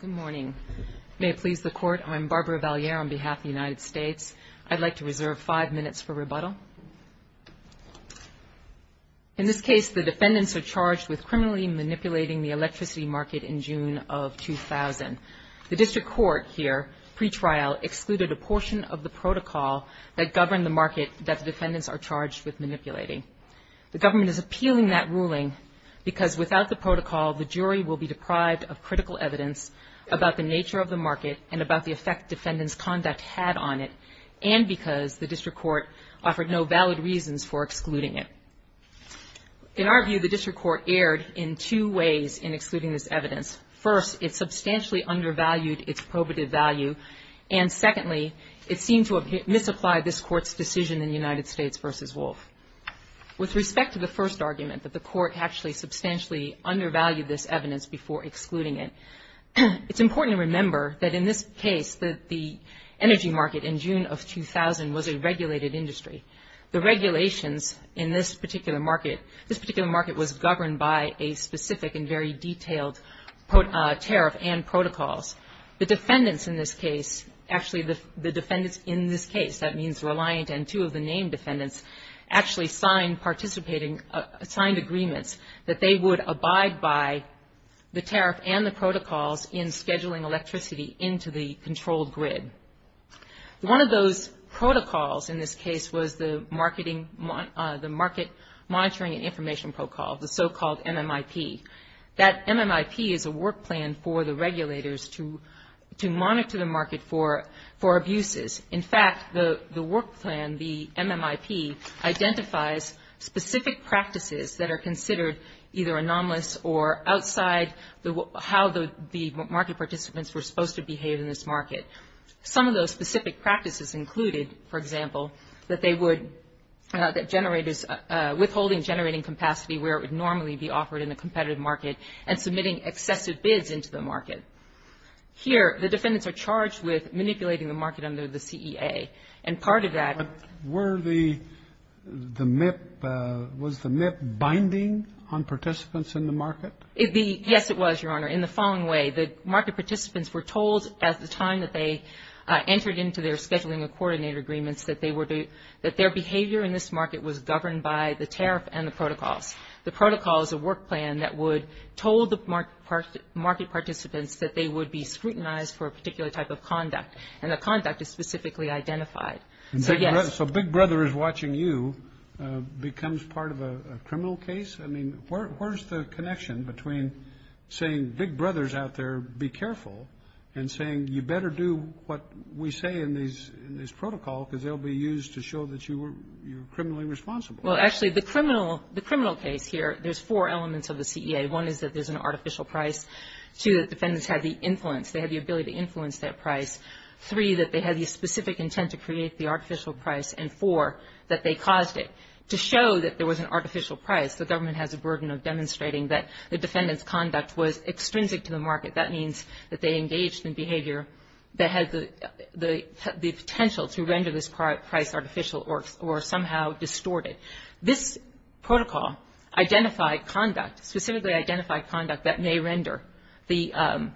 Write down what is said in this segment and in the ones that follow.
Good morning. May it please the Court, I'm Barbara Valliere on behalf of the United States. I'd like to reserve five minutes for rebuttal. In this case, the defendants are charged with criminally manipulating the electricity market in June of 2000. The District Court here, pre-trial, excluded a portion of the protocol that governed the market that the defendants are charged with manipulating. The government is appealing that ruling because without the protocol, the jury will be deprived of critical evidence about the nature of the market and about the effect defendants' conduct had on it, and because the District Court offered no valid reasons for excluding it. In our view, the District Court erred in two ways in excluding this evidence. First, it substantially undervalued its probative value, and secondly, it seemed to misapply this Court's decision in United States v. Wolf. With respect to the first argument, that the Court actually substantially undervalued this evidence before excluding it, it's important to remember that in this case, that the energy market in June of 2000 was a regulated industry. The regulations in this particular market, this particular market was governed by a specific and very detailed tariff and protocols. The defendants in this case, actually the defendants in this case, that means Reliant and two of the named defendants, actually signed participating, signed agreements that they would abide by the tariff and the protocols in scheduling electricity into the controlled grid. One of those protocols in this case was the Market Monitoring and Information Protocol, the so-called MMIP. That MMIP is a work plan for the regulators to monitor the market for abuses. In fact, the work plan, the MMIP, identifies specific practices that are considered either anomalous or outside how the market participants were supposed to behave in this market. Some of those specific practices included, for example, that they would, that generators, withholding generating capacity where it would normally be offered in a competitive market and submitting excessive bids into the market. Here, the defendants are charged with manipulating the market under the CEA. And part of that was the MMIP binding on participants in the market? Yes, it was, Your Honor. In the following way, the market participants were told at the time that they entered into their scheduling of coordinator agreements that their behavior in this market was governed by the tariff and the protocols. The protocol is a work plan that would, told the market participants that they would be scrutinized for a particular type of conduct, and the conduct is specifically identified. So, yes. So Big Brother is watching you becomes part of a criminal case? I mean, where's the connection between saying Big Brother's out there, be careful, and saying you better do what we say in this protocol, because they'll be used to show that you were criminally responsible? Well, actually, the criminal case here, there's four elements of the CEA. One is that there's an artificial price. Two, that defendants had the influence, they had the ability to influence that price. Three, that they had the specific intent to create the artificial price. And four, that they caused it. To show that there was an artificial price, the government has a burden of demonstrating that the defendant's conduct was extrinsic to the market. That means that they engaged in behavior that had the potential to render this price artificial or somehow distorted. This protocol identified conduct, specifically identified conduct that may render the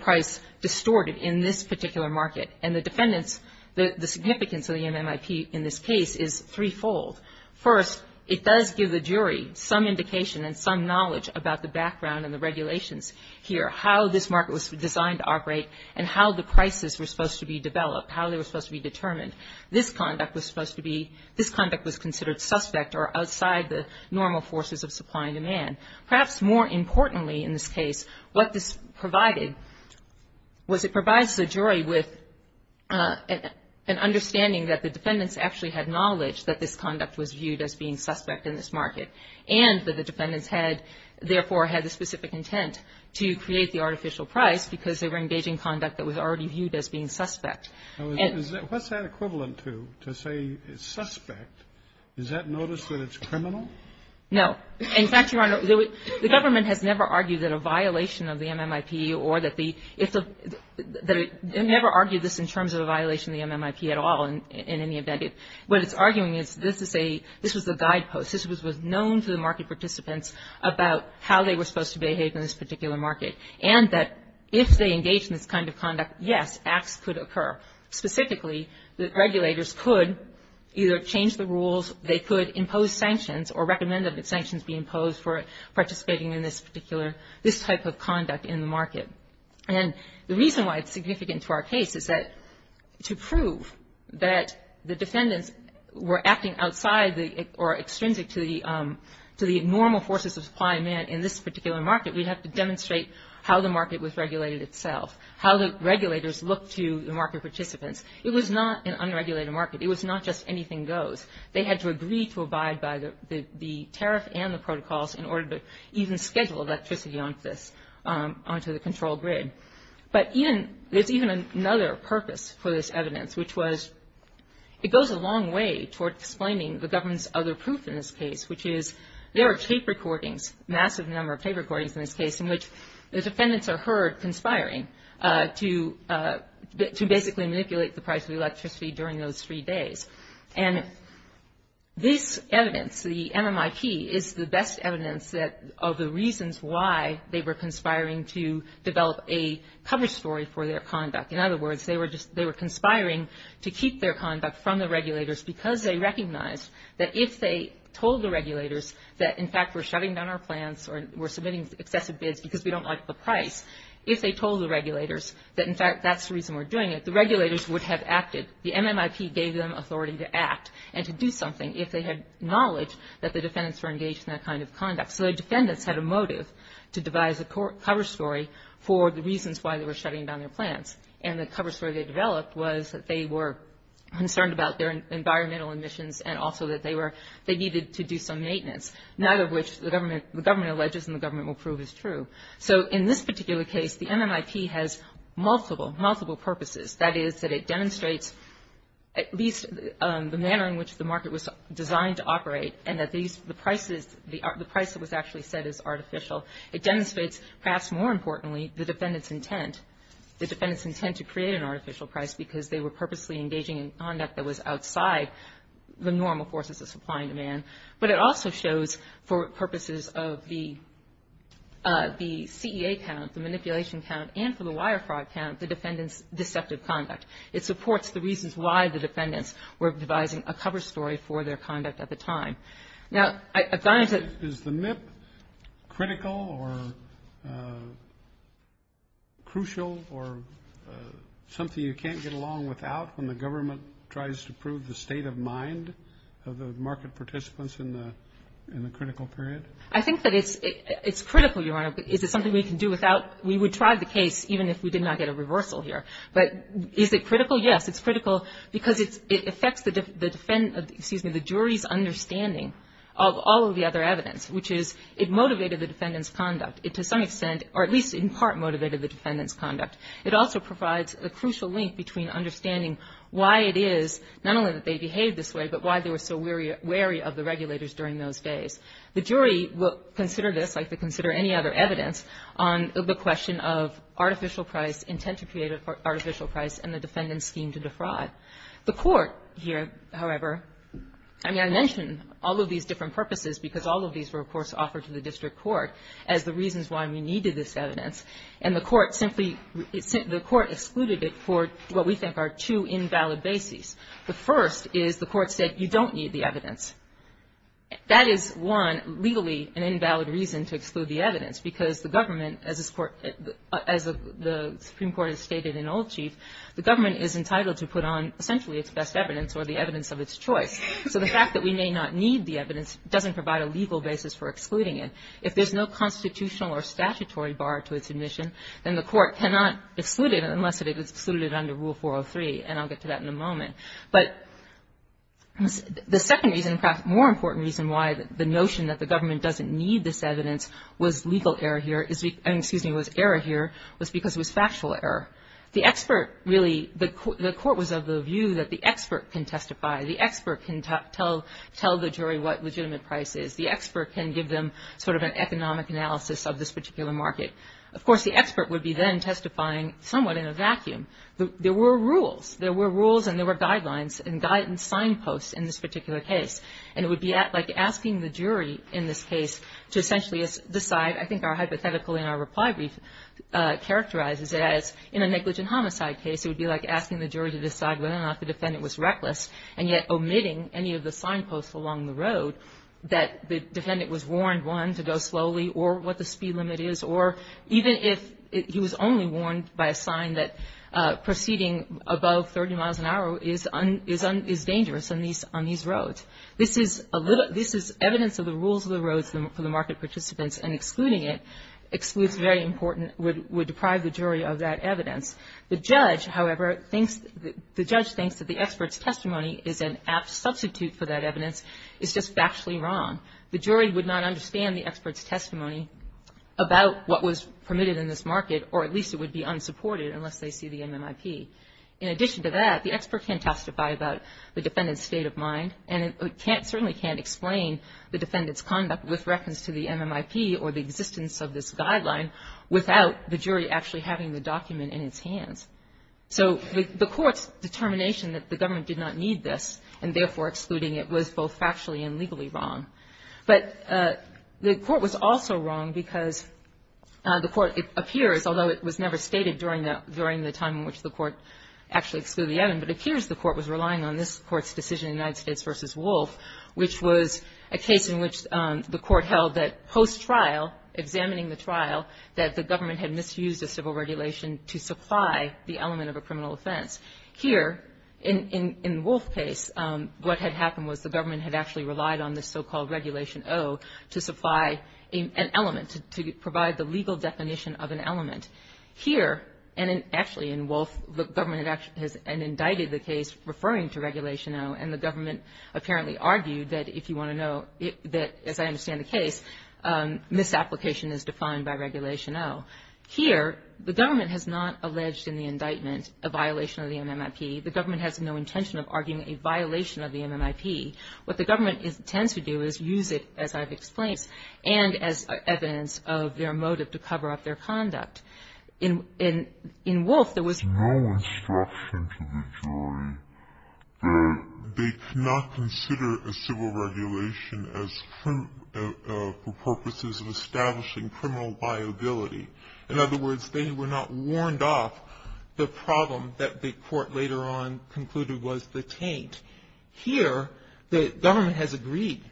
price distorted in this particular market. And the defendants, the significance of the MMIP in this case is threefold. First, it does give the jury some indication and some knowledge about the background and the regulations here, how this market was designed to operate and how the prices were supposed to be developed, how they were supposed to be determined. This conduct was supposed to be, this conduct was considered suspect or outside the normal forces of supply and demand. Perhaps more importantly in this case, what this provided was it provides the jury with an understanding that the defendants actually had knowledge that this conduct was viewed as being suspect in this market. And that the defendants had, therefore, had the specific intent to create the artificial price because they were engaging conduct that was already viewed as being suspect. And what's that equivalent to, to say it's suspect? Is that notice that it's criminal? No. In fact, Your Honor, the government has never argued that a violation of the MMIP or that the, it's a, they never argued this in terms of a violation of the MMIP at all in any event. What it's arguing is this is a, this was a guidepost. This was known to the market participants about how they were supposed to behave in this particular market. And that if they engage in this kind of conduct, yes, acts could occur. Specifically, the regulators could either change the rules, they could impose sanctions or recommend that sanctions be imposed for participating in this particular, this type of conduct in the market. And the reason why it's significant to our case is that to prove that the defendants were acting outside the, or extrinsic to the, to the normal forces of supply and demand in this particular market, we'd have to demonstrate how the market was regulated itself, how the regulators looked to the market participants. It was not an unregulated market. It was not just anything goes. They had to agree to abide by the tariff and the protocols in order to even schedule electricity onto this, onto the control grid. But even, there's even another purpose for this evidence, which was, it goes a long way toward explaining the government's other proof in this case, which is there are tape recordings, massive number of tape recordings in this case, in which the defendants are heard conspiring to basically manipulate the price of electricity during those three days. And this evidence, the MMIP, is the best evidence that, of the reasons why they were conspiring to develop a cover story for their conduct. In other words, they were just, they were conspiring to keep their conduct from the regulators because they recognized that if they told the regulators that, in fact, we're shutting down our plants or we're submitting excessive bids because we don't like the price, if they told the regulators that, in fact, that's the reason we're doing it, the regulators would have acted. The MMIP gave them authority to act and to do something if they had knowledge that the defendants were engaged in that kind of conduct. So the defendants had a motive to devise a cover story for the reasons why they were shutting down their plants. And the cover story they developed was that they were concerned about their environmental emissions and also that they were, they needed to do some maintenance, neither of which the government alleges and the government will prove is true. So in this particular case, the MMIP has multiple, multiple purposes. That is, that it demonstrates at least the manner in which the market was designed, that these, the prices, the price that was actually set is artificial. It demonstrates, perhaps more importantly, the defendants' intent, the defendants' intent to create an artificial price because they were purposely engaging in conduct that was outside the normal forces of supply and demand. But it also shows, for purposes of the CEA count, the manipulation count and for the wire fraud count, the defendants' deceptive conduct. It supports the reasons why the defendants were devising a cover story for their conduct at the time. Now, I've gotten to... Is the MMIP critical or crucial or something you can't get along without when the government tries to prove the state of mind of the market participants in the critical period? I think that it's critical, Your Honor. Is it something we can do without? We would try the case even if we did not get a reversal here. But is it critical? Yes, it's critical because it affects the jury's understanding of all of the other evidence, which is it motivated the defendants' conduct. It, to some extent, or at least in part motivated the defendants' conduct. It also provides a crucial link between understanding why it is, not only that they behaved this way, but why they were so wary of the regulators during those days. The jury will consider this like they consider any other evidence on the question of artificial price, intent to create artificial price, and the defendant's scheme to defraud. The court here, however, I mean, I mention all of these different purposes because all of these were, of course, offered to the district court as the reasons why we needed this evidence. And the court simply, the court excluded it for what we think are two invalid bases. The first is the court said you don't need the evidence. That is, one, legally an invalid reason to exclude the evidence because the government, as the Supreme Court has stated in Old Chief, the government is entitled to put on essentially its best evidence or the evidence of its choice. So the fact that we may not need the evidence doesn't provide a legal basis for excluding it. If there's no constitutional or statutory bar to its admission, then the court cannot exclude it unless it is excluded under Rule 403, and I'll get to that in a moment. But the second reason, perhaps more important reason why the notion that the government doesn't need this evidence was legal error here, excuse me, was error here was because it was factual error. The expert really, the court was of the view that the expert can testify. The expert can tell the jury what legitimate price is. The expert can give them sort of an economic analysis of this particular market. Of course, the expert would be then testifying somewhat in a vacuum. There were rules. There were rules and there were guidelines and signposts in this particular case. And it would be like asking the jury in this case to essentially decide, I think our hypothetical in our reply brief characterizes it as in a negligent homicide case, it would be like asking the jury to decide whether or not the defendant was reckless and yet omitting any of the signposts along the road that the defendant was warned, one, to go slowly or what the speed limit is, or even if he was only warned by a sign that this is evidence of the rules of the roads for the market participants and excluding it excludes very important, would deprive the jury of that evidence. The judge, however, thinks the judge thinks that the expert's testimony is an apt substitute for that evidence. It's just factually wrong. The jury would not understand the expert's testimony about what was permitted in this market, or at least it would be unsupported unless they see the MMIP. In addition to that, the expert can testify about the defendant's state of mind, and it certainly can't explain the defendant's conduct with reckons to the MMIP or the existence of this guideline without the jury actually having the document in its hands. So the court's determination that the government did not need this and therefore excluding it was both factually and legally wrong. But the court was also wrong because the court, it appears, although it was never stated during the time in which the court actually excluded the evidence, but it appears the court's decision in United States v. Wolfe, which was a case in which the court held that post-trial, examining the trial, that the government had misused a civil regulation to supply the element of a criminal offense. Here, in Wolfe's case, what had happened was the government had actually relied on this so-called Regulation O to supply an element, to provide the legal definition of an element. Here, and actually in Wolfe, the government had actually, and indicted the case referring to Regulation O, and the government apparently argued that, if you want to know, that, as I understand the case, misapplication is defined by Regulation O. Here, the government has not alleged in the indictment a violation of the MMIP. The government has no intention of arguing a violation of the MMIP. What the government intends to do is use it, as I've explained, and as evidence of their motive to cover up their conduct. In Wolfe, there was no instruction to the jury that they cannot consider a civil regulation as proof for purposes of establishing criminal viability. In other words, they were not warned off the problem that the court later on concluded was the taint. Here, the government has agreed,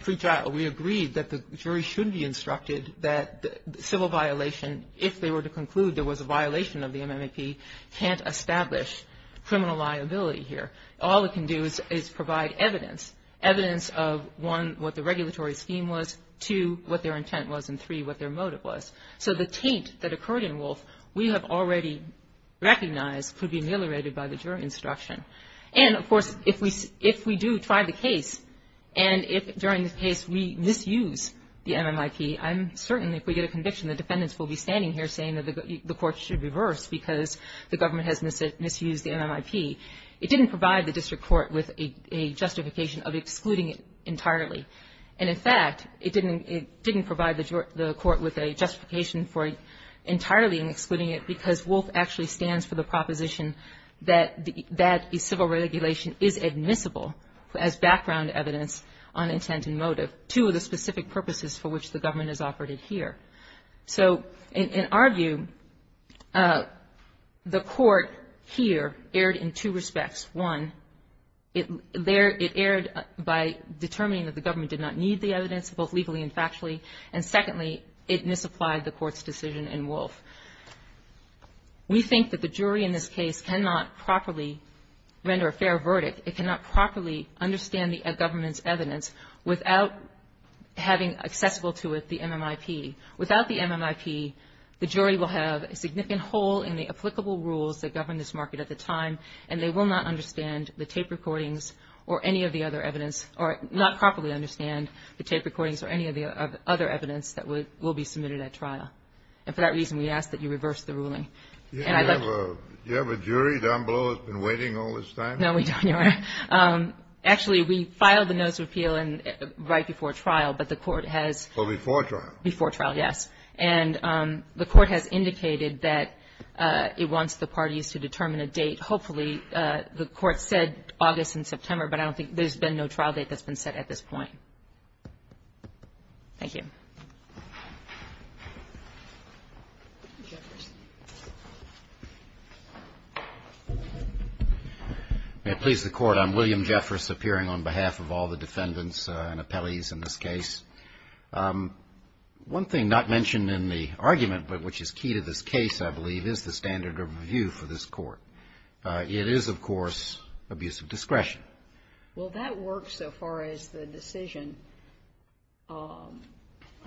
pre-trial, we agreed that the jury should be instructed that civil violation, if they were to conclude there was a violation of the MMIP, can't establish criminal liability here. All it can do is provide evidence, evidence of, one, what the regulatory scheme was, two, what their intent was, and three, what their motive was. So the taint that occurred in Wolfe, we have already recognized could be ameliorated by the jury instruction. And, of course, if we do try the case, and if during the case we misuse the MMIP, I'm certain that if we get a conviction, the defendants will be standing here saying that the court should reverse because the government has misused the MMIP. It didn't provide the district court with a justification of excluding it entirely. And in fact, it didn't provide the court with a justification for entirely excluding it because Wolfe actually stands for the proposition that a civil regulation is admissible as background evidence on intent and motive, two of the specific purposes for which the government has operated here. So in our view, the court here erred in two respects. One, there it erred by determining that the government did not need the evidence, both legally and factually. And secondly, it misapplied the court's decision in Wolfe. We think that the jury in this case cannot properly render a fair verdict. It cannot properly understand the government's evidence without having accessible to it the MMIP. Without the MMIP, the jury will have a significant hole in the applicable rules that govern this market at the time, and they will not understand the tape recordings or any of the other evidence or not properly understand the tape recordings or any of the other evidence that will be submitted at trial. And for that reason, we ask that you reverse the ruling. And I'd like to... Do you have a jury down below that's been waiting all this time? No, we don't, Your Honor. Actually, we filed the notice of repeal right before trial, but the court has... So before trial. Before trial, yes. And the court has indicated that it wants the parties to determine a date. Hopefully, the court said August and September, but I don't think there's been no trial date that's been set at this point. Thank you. May it please the Court, I'm William Jeffress, appearing on behalf of all the defendants and appellees in this case. One thing not mentioned in the argument, but which is key to this case, I believe, is the standard of review for this court. It is, of course, abuse of discretion. Well, that works so far as the decision, the decision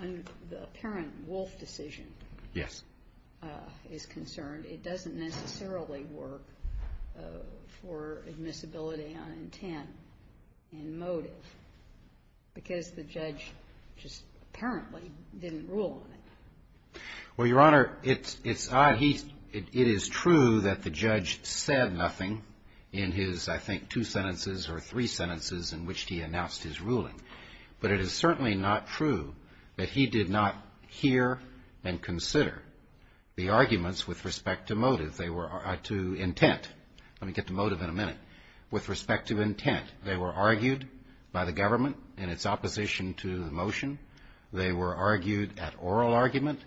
that the court has made, the apparent Wolf decision is concerned. It doesn't necessarily work for admissibility on intent and motive, because the judge just apparently didn't rule on it. Well, Your Honor, it's odd. It is true that the judge said nothing in his, I think, two sentences or three sentences in which he announced his ruling. But it is certainly not true that he did not hear and consider the arguments with respect to motive, to intent. Let me get to motive in a minute. With respect to intent, they were argued by the government in its opposition to the motion. They were argued at oral argument.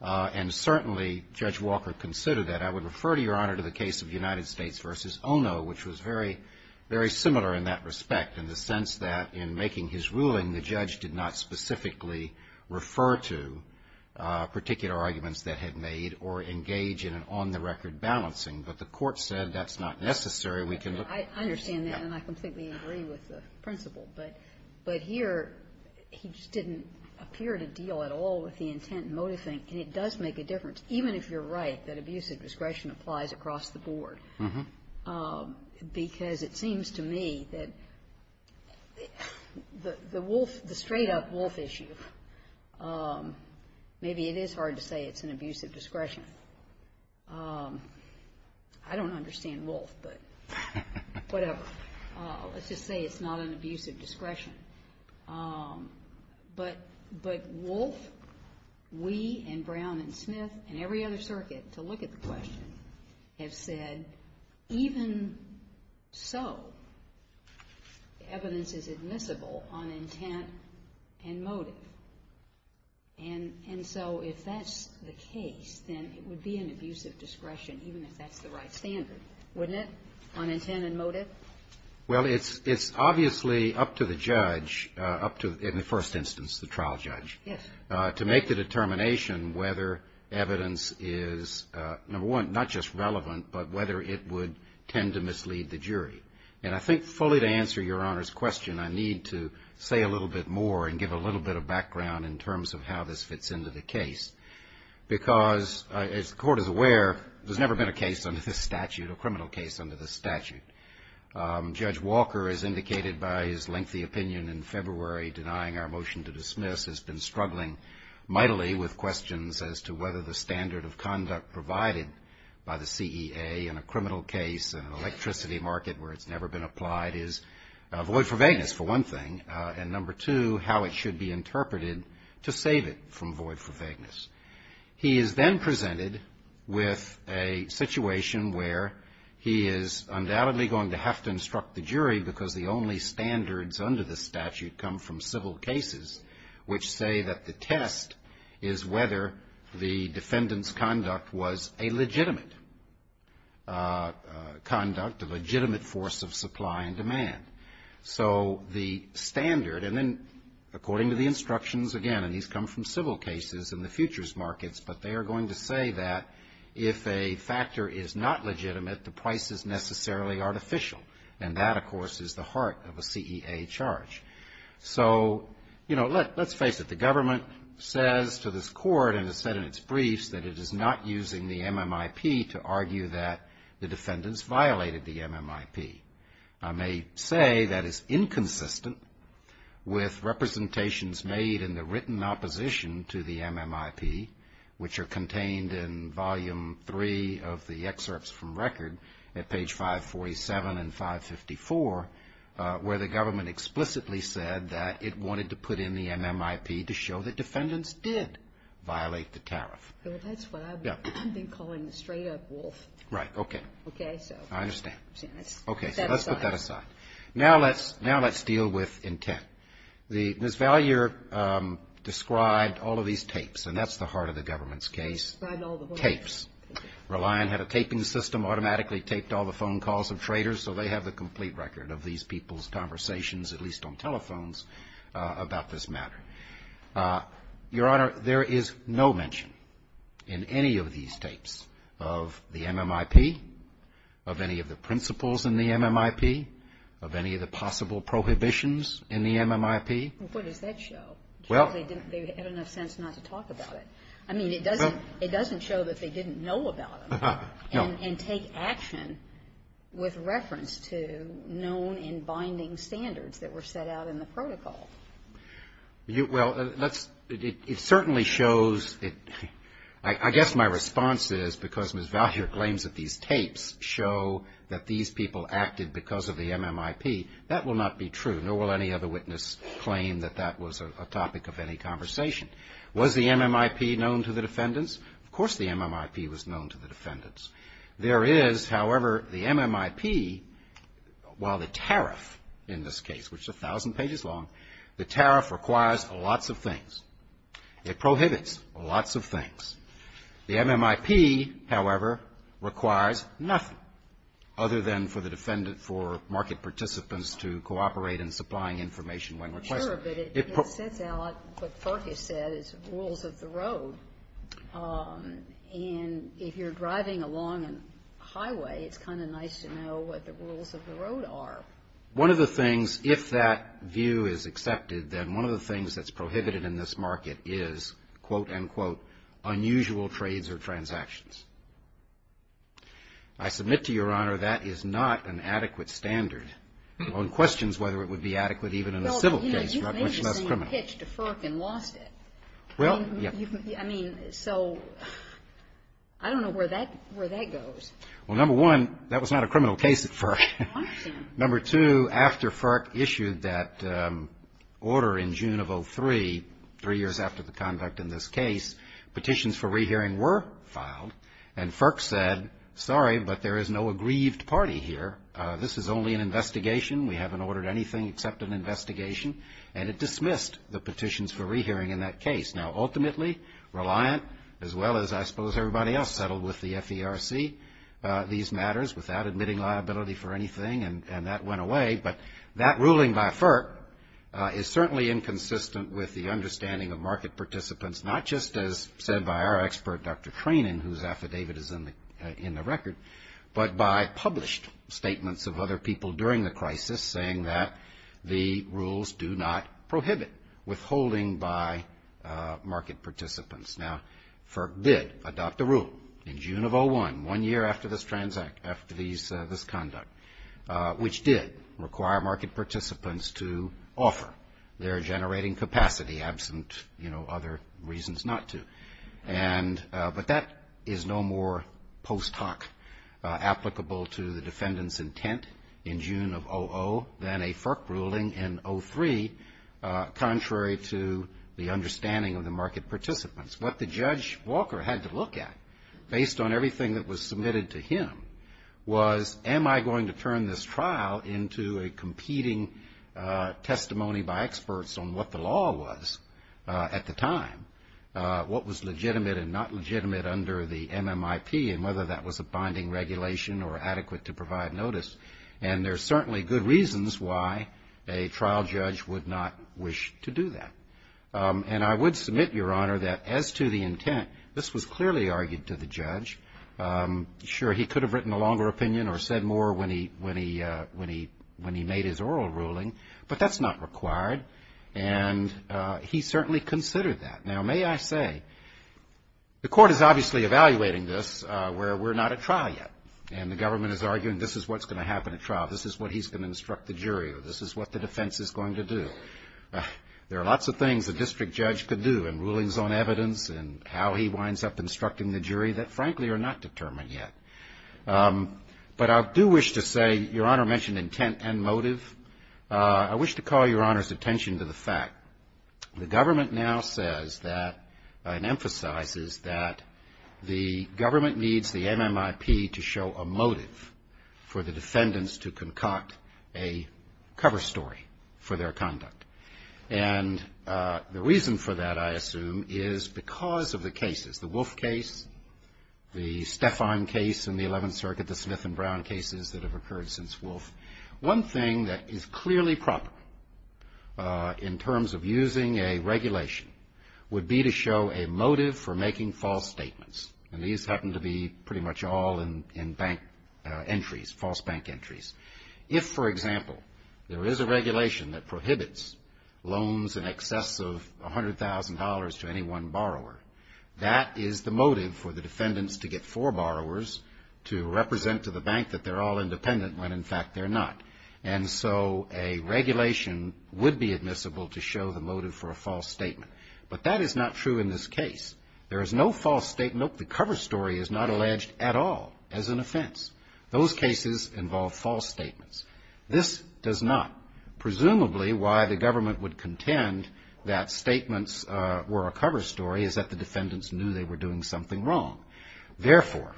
And certainly, Judge Walker considered that. I would refer to, Your Honor, to the case of United States v. Ono, which was very similar in that respect in the sense that in making his ruling, the judge did not specifically refer to particular arguments that had made or engage in an on-the-record balancing. But the court said that's not necessary. We can look at it. I understand that, and I completely agree with the principle. But here, he just didn't appear to deal at all with the intent and motive thing. And it does make a difference, even if you're right that abuse of discretion applies across the board, because it seems to me that the wolf, the straight-up wolf issue, maybe it is hard to say it's an abuse of discretion. I don't understand wolf, but whatever. Let's just say it's not an abuse of discretion. But wolf, we and Brown and Smith and every other circuit to look at the question have said, even so, evidence is admissible on intent and motive. And so if that's the case, then it would be an abuse of discretion, even if that's the right standard, wouldn't it, on intent and motive? Well, it's obviously up to the judge, in the first instance, the trial judge, to make the case, number one, not just relevant, but whether it would tend to mislead the jury. And I think fully to answer Your Honor's question, I need to say a little bit more and give a little bit of background in terms of how this fits into the case, because as the Court is aware, there's never been a case under this statute, a criminal case under this statute. Judge Walker, as indicated by his lengthy opinion in February denying our motion to dismiss, has been struggling mightily with questions as to whether the standard of conduct provided by the CEA in a criminal case in an electricity market where it's never been applied is void for vagueness, for one thing, and number two, how it should be interpreted to save it from void for vagueness. He is then presented with a situation where he is undoubtedly going to have to instruct the jury, because the only standards under the statute come from which say that the test is whether the defendant's conduct was a legitimate conduct, a legitimate force of supply and demand. So the standard, and then according to the instructions again, and these come from civil cases in the futures markets, but they are going to say that if a factor is not legitimate, the price is necessarily artificial, and that, of course, is the heart of a CEA charge. So, you know, let's face it. The government says to this court, and has said in its briefs, that it is not using the MMIP to argue that the defendant's violated the MMIP. I may say that it's inconsistent with representations made in the written opposition to the MMIP, which are contained in volume three of the excerpts from record at page 547 and 554, where the government explicitly said that it wanted to put in the MMIP to show that defendants did violate the tariff. Well, that's what I've been calling the straight up wolf. Right, okay. I understand. Okay, so let's put that aside. Now let's deal with intent. Ms. Vallier described all of these tapes, and that's the heart of the government's case. Tapes. Reliant had a taping system, automatically taped all the phone calls of traders, so they have the complete record of these people's conversations, at least on telephones, about this matter. Your Honor, there is no mention in any of these tapes of the MMIP, of any of the principles in the MMIP, of any of the possible prohibitions in the MMIP. What does that show? Well — They had enough sense not to talk about it. I mean, it doesn't show that they didn't know about them and take action with reference to known and binding standards that were set out in the protocol. I guess my response is, because Ms. Vallier claims that these tapes show that these people acted because of the MMIP, that will not be true, nor will any other witness claim that that was a part of any conversation. Was the MMIP known to the defendants? Of course the MMIP was known to the defendants. There is, however, the MMIP, while the tariff in this case, which is a thousand pages long, the tariff requires lots of things. It prohibits lots of things. The MMIP, however, requires nothing other than for the defendant, for market participants to cooperate in supplying information when requested. I'm not sure, but it sets out what Farkas said as rules of the road. And if you're driving along a highway, it's kind of nice to know what the rules of the road are. One of the things, if that view is accepted, then one of the things that's prohibited in this market is, quote, unquote, unusual trades or transactions. I submit to Your Honor that is not an adequate standard. One questions whether it would be adequate even in a civil case, much less criminal. Well, I mean, so I don't know where that goes. Well, number one, that was not a criminal case at FERC. Number two, after FERC issued that order in June of 2003, three years after the conduct in this case, petitions for rehearing were filed, and FERC said, sorry, but there is no aggrieved party here. This is only an investigation. We haven't ordered anything except an investigation. And it dismissed the petitions for rehearing in that case. Now, ultimately, Reliant, as well as I suppose everybody else settled with the FERC, these matters without admitting liability for anything, and that went away. But that ruling by FERC is certainly inconsistent with the understanding of market participants, not just as said by our expert, Dr. Treinen, whose affidavit is in the record, but by published statements of other people during the crisis saying that the rules do not prohibit withholding by market participants. Now, FERC did adopt a rule in June of 2001, one year after this conduct, which did require market participants to offer their generating capacity, absent, you know, other reasons not to. But that is no more post hoc applicable to the defendant's intent in June of 00 than a FERC ruling in 03, contrary to the understanding of the market participants. What the Judge Walker had to look at, based on everything that was submitted to him, was am I going to turn this trial into a competing testimony by experts on what the law was at the time? What was legitimate and not legitimate under the MMIP, and whether that was a binding regulation or adequate to provide notice? And there's certainly good reasons why a trial judge would not wish to do that. And I would submit, Your Honor, that as to the intent, this was clearly argued to the judge. Sure, he could have written a longer opinion or said more when he made his oral ruling, but that's not required. And he certainly considered that. Now, may I say, the Court is obviously evaluating this where we're not at trial yet, and the government is arguing this is what's going to happen at trial. This is what he's going to instruct the jury, or this is what the defense is going to do. There are lots of things a district judge could do, and rulings on evidence, and how he winds up instructing the jury that, frankly, are not determined yet. But I do wish to say, Your Honor mentioned intent and motive. I wish to call Your Honor's attention to the fact the government now says that, and emphasizes that the government needs the MMIP to show a motive for the defendants to concoct a cover story for their conduct. And the reason for that, I assume, is because of the cases. The Wolfe case, the Stefan case in the Eleventh Circuit, the Smith and Brown cases that have occurred since Wolfe. One thing that is clearly proper in terms of using a regulation would be to show a motive for making false statements. And these happen to be pretty much all in bank entries, false bank entries. If, for example, there is a regulation that prohibits loans in excess of $100,000 to any one borrower, that is the motive for the defendants to get four borrowers to represent to the bank that they're all independent when, in fact, they're not. And so a regulation would be admissible to show the motive for a false statement. But that is not true in this case. There is no false statement. The cover story is not alleged at all as an offense. Those cases involve false statements. This does not. Presumably why the government would contend that statements were a cover story is that the defendants knew they were doing something wrong. Therefore,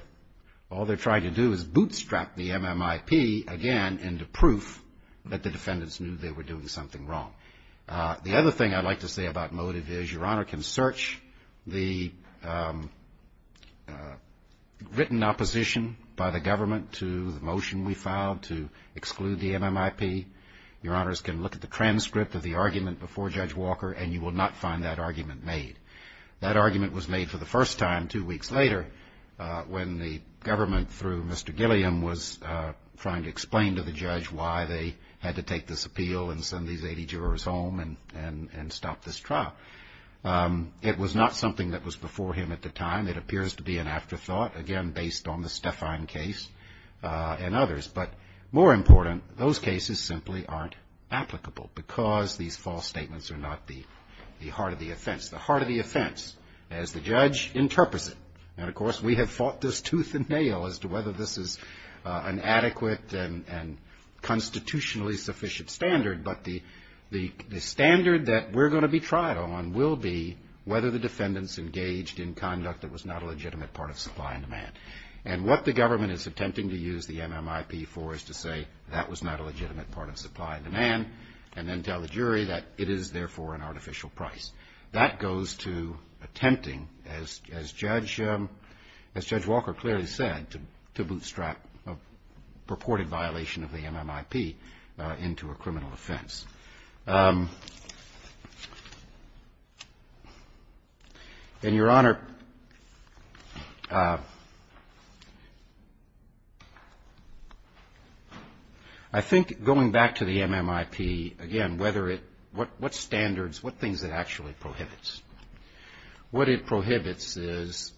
all they're trying to do is bootstrap the MMIP again into proof that the defendants knew they were doing something wrong. The other thing I'd like to say about motive is Your Honor can search the written opposition by the government to the motion we filed to Your Honors can look at the transcript of the argument before Judge Walker and you will not find that argument made. That argument was made for the first time two weeks later when the government, through Mr. Gilliam, was trying to explain to the judge why they had to take this appeal and send these 80 jurors home and stop this trial. It was not something that was before him at the time. It appears to be an afterthought, again, based on the Stefan case and others. But more important, those cases simply aren't applicable because these false statements are not the heart of the offense. The heart of the offense, as the judge interprets it, and of course we have fought this tooth and nail as to whether this is an adequate and constitutionally sufficient standard, but the standard that we're going to be tried on will be whether the defendants engaged in conduct that was not a legitimate part of supply and demand. And what the government is attempting to use the MMIP for is to say that was not a legitimate part of supply and demand and then tell the jury that it is, therefore, an artificial price. That goes to attempting, as Judge Walker clearly said, to bootstrap a purported violation of the MMIP into a criminal offense. And, Your Honor, I think going back to the MMIP, again, what standards, what things it actually prohibits? What it prohibits is,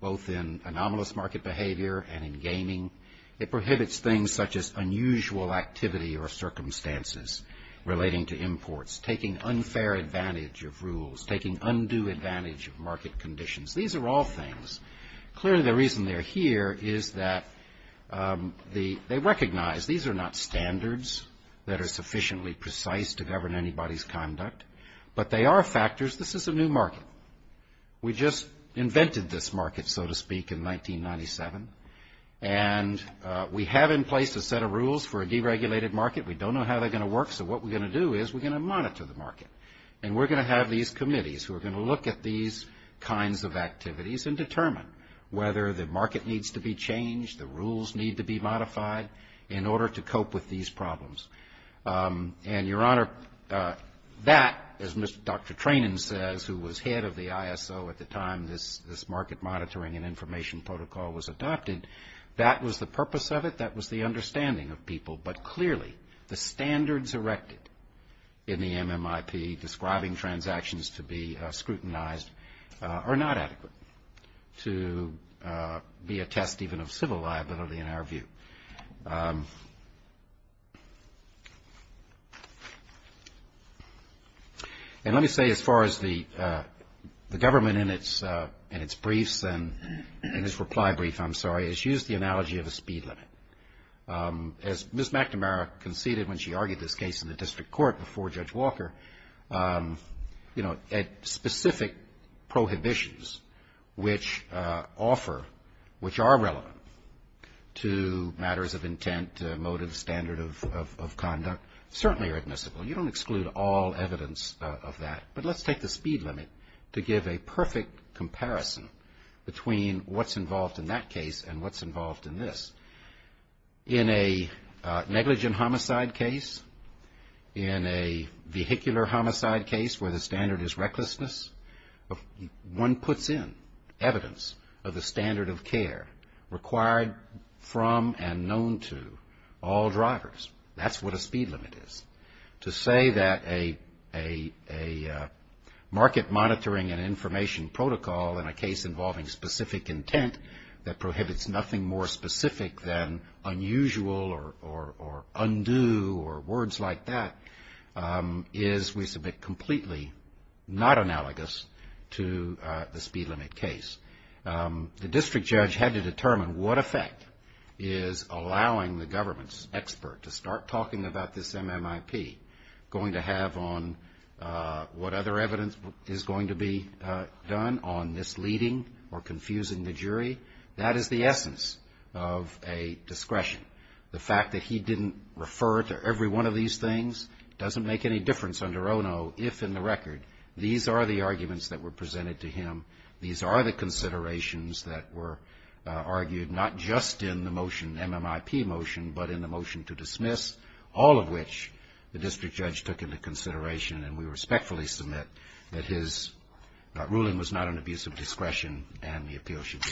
both in anomalous market behavior and in gaming, it prohibits things such as unusual activity or relating to imports, taking unfair advantage of rules, taking undue advantage of market conditions. These are all things. Clearly, the reason they're here is that they recognize these are not standards that are sufficiently precise to govern anybody's conduct, but they are factors. This is a new market. We just invented this market, so to speak, in 1997, and we have in place a set of rules for a deregulated market. We don't know how they're going to work, so what we're going to do is we're going to monitor the market. And we're going to have these committees who are going to look at these kinds of activities and determine whether the market needs to be changed, the rules need to be modified in order to cope with these problems. And, Your Honor, that, as Dr. Trainin says, who was head of the ISO at the time this market monitoring and information protocol was adopted, that was the purpose of it, that was the understanding of people, but clearly, the standards erected in the MMIP describing transactions to be scrutinized are not adequate to be a test even of civil liability in our view. And let me say, as far as the government in its briefs and in its reply brief, I'm sorry, it's used the analogy of a speed limit. As Ms. McNamara conceded when she argued this case in the district court before Judge Walker, you know, at specific prohibitions which offer, which are relevant to matters of intent, motive, standard of conduct, and so forth, certainly are admissible, you don't exclude all evidence of that, but let's take the speed limit to give a perfect comparison between what's involved in that case and what's involved in this. In a negligent homicide case, in a vehicular homicide case where the standard is recklessness, one puts in evidence of the standard of care required from and known to all drivers. That's what a speed limit is. To say that a market monitoring and information protocol in a case involving specific intent that prohibits nothing more specific than unusual or undue or words like that is, we submit, completely not analogous to the speed limit case. The district judge had to determine what effect is allowing the government's expert to say that the speed limit is going to have on what other evidence is going to be done on misleading or confusing the jury, that is the essence of a discretion. The fact that he didn't refer to every one of these things doesn't make any difference under ONO, if in the record, these are the arguments that were presented to him, these are the considerations that were argued not just in the case itself, but in the case itself, that should be dismissed, all of which the district judge took into consideration, and we respectfully submit that his ruling was not an abuse of discretion and the appeal should be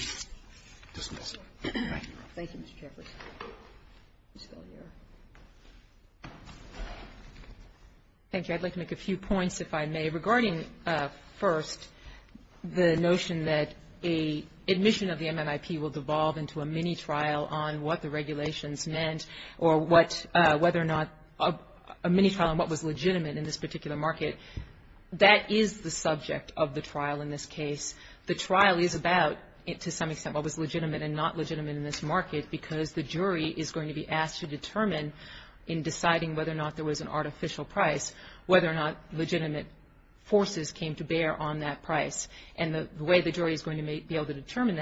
dismissed. Thank you. Thank you. I'd like to make a few points, if I may. Regarding, first, the notion that a admission of the MNIP will devolve into a mini-trial on what the regulations meant or whether or not a mini-trial on what was legitimate in this particular market, that is the subject of the trial in this case. The trial is about, to some extent, what was legitimate and not legitimate in this market, because the jury is going to be asked to determine, in deciding whether or not there was an artificial price, whether or not legitimate forces came to bear on that price. And the way the jury is going to be able to determine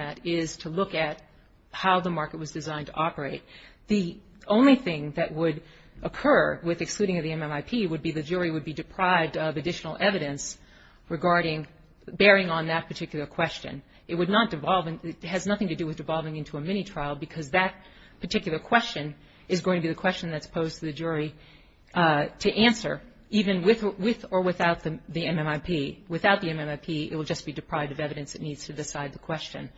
how the market was designed to operate, the only thing that would occur with excluding the MNIP would be the jury would be deprived of additional evidence regarding bearing on that particular question. It would not devolve, it has nothing to do with devolving into a mini-trial, because that particular question is going to be the question that's posed to the jury to answer, even with or without the MNIP. Without the MNIP, it will just be deprived of evidence that needs to decide the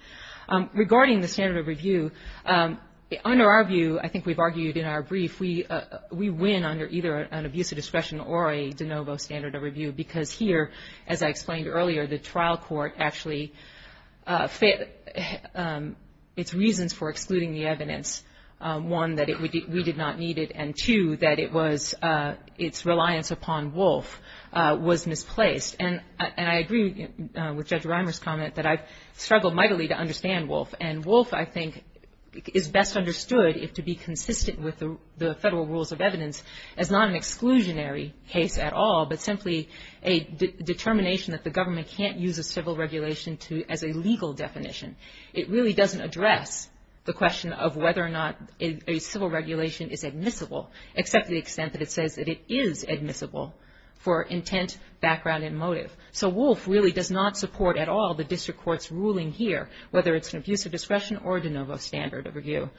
review. Under our view, I think we've argued in our brief, we win under either an abuse of discretion or a de novo standard of review, because here, as I explained earlier, the trial court actually, its reasons for excluding the evidence, one, that we did not need it, and two, that it was, its reliance upon Wolf was misplaced. And I agree with Judge Reimer's comment that I've argued, and I think is best understood, if to be consistent with the federal rules of evidence, as not an exclusionary case at all, but simply a determination that the government can't use a civil regulation as a legal definition. It really doesn't address the question of whether or not a civil regulation is admissible, except to the extent that it says that it is admissible for intent, background, and motive. So Wolf really does not support at all the district court's ruling here, whether it's an abuse of discretion or a de novo standard of review.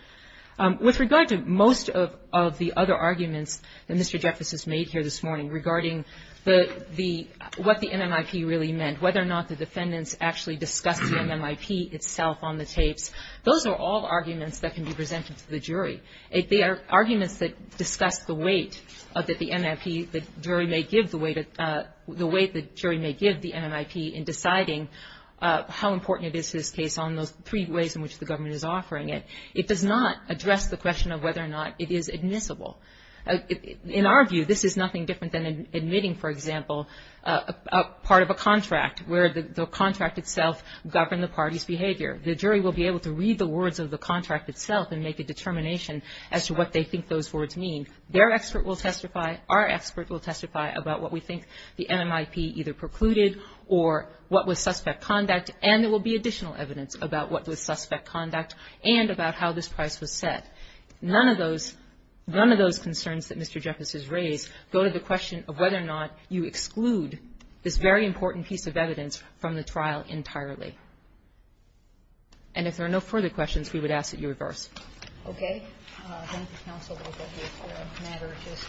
With regard to most of the other arguments that Mr. Jeffress has made here this morning, regarding the, what the MMIP really meant, whether or not the defendants actually discussed the MMIP itself on the tapes, those are all arguments that can be presented to the jury. They are arguments that discuss the weight that the MMIP, the jury may give the weight, the weight the jury may give the MMIP in deciding how important it is to this case on those three ways in which the government is offering it. It does not address the question of whether or not it is admissible. In our view, this is nothing different than admitting, for example, a part of a contract where the contract itself governed the party's behavior. The jury will be able to read the words of the contract itself and make a determination as to what they think those words mean. Their expert will testify. Our expert will testify about what we think the MMIP either precluded or what was suspect conduct, and there will be additional evidence about what was suspect conduct and about how this price was set. None of those, none of those concerns that Mr. Jeffress has raised go to the question of whether or not you exclude this very important piece of evidence from the trial entirely. And if there are no further questions, we would ask that you reverse. Okay. Thank you, counsel. The matter just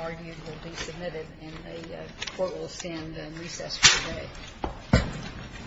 argued will be submitted, and the Court will stand in recess for the day. Thank you.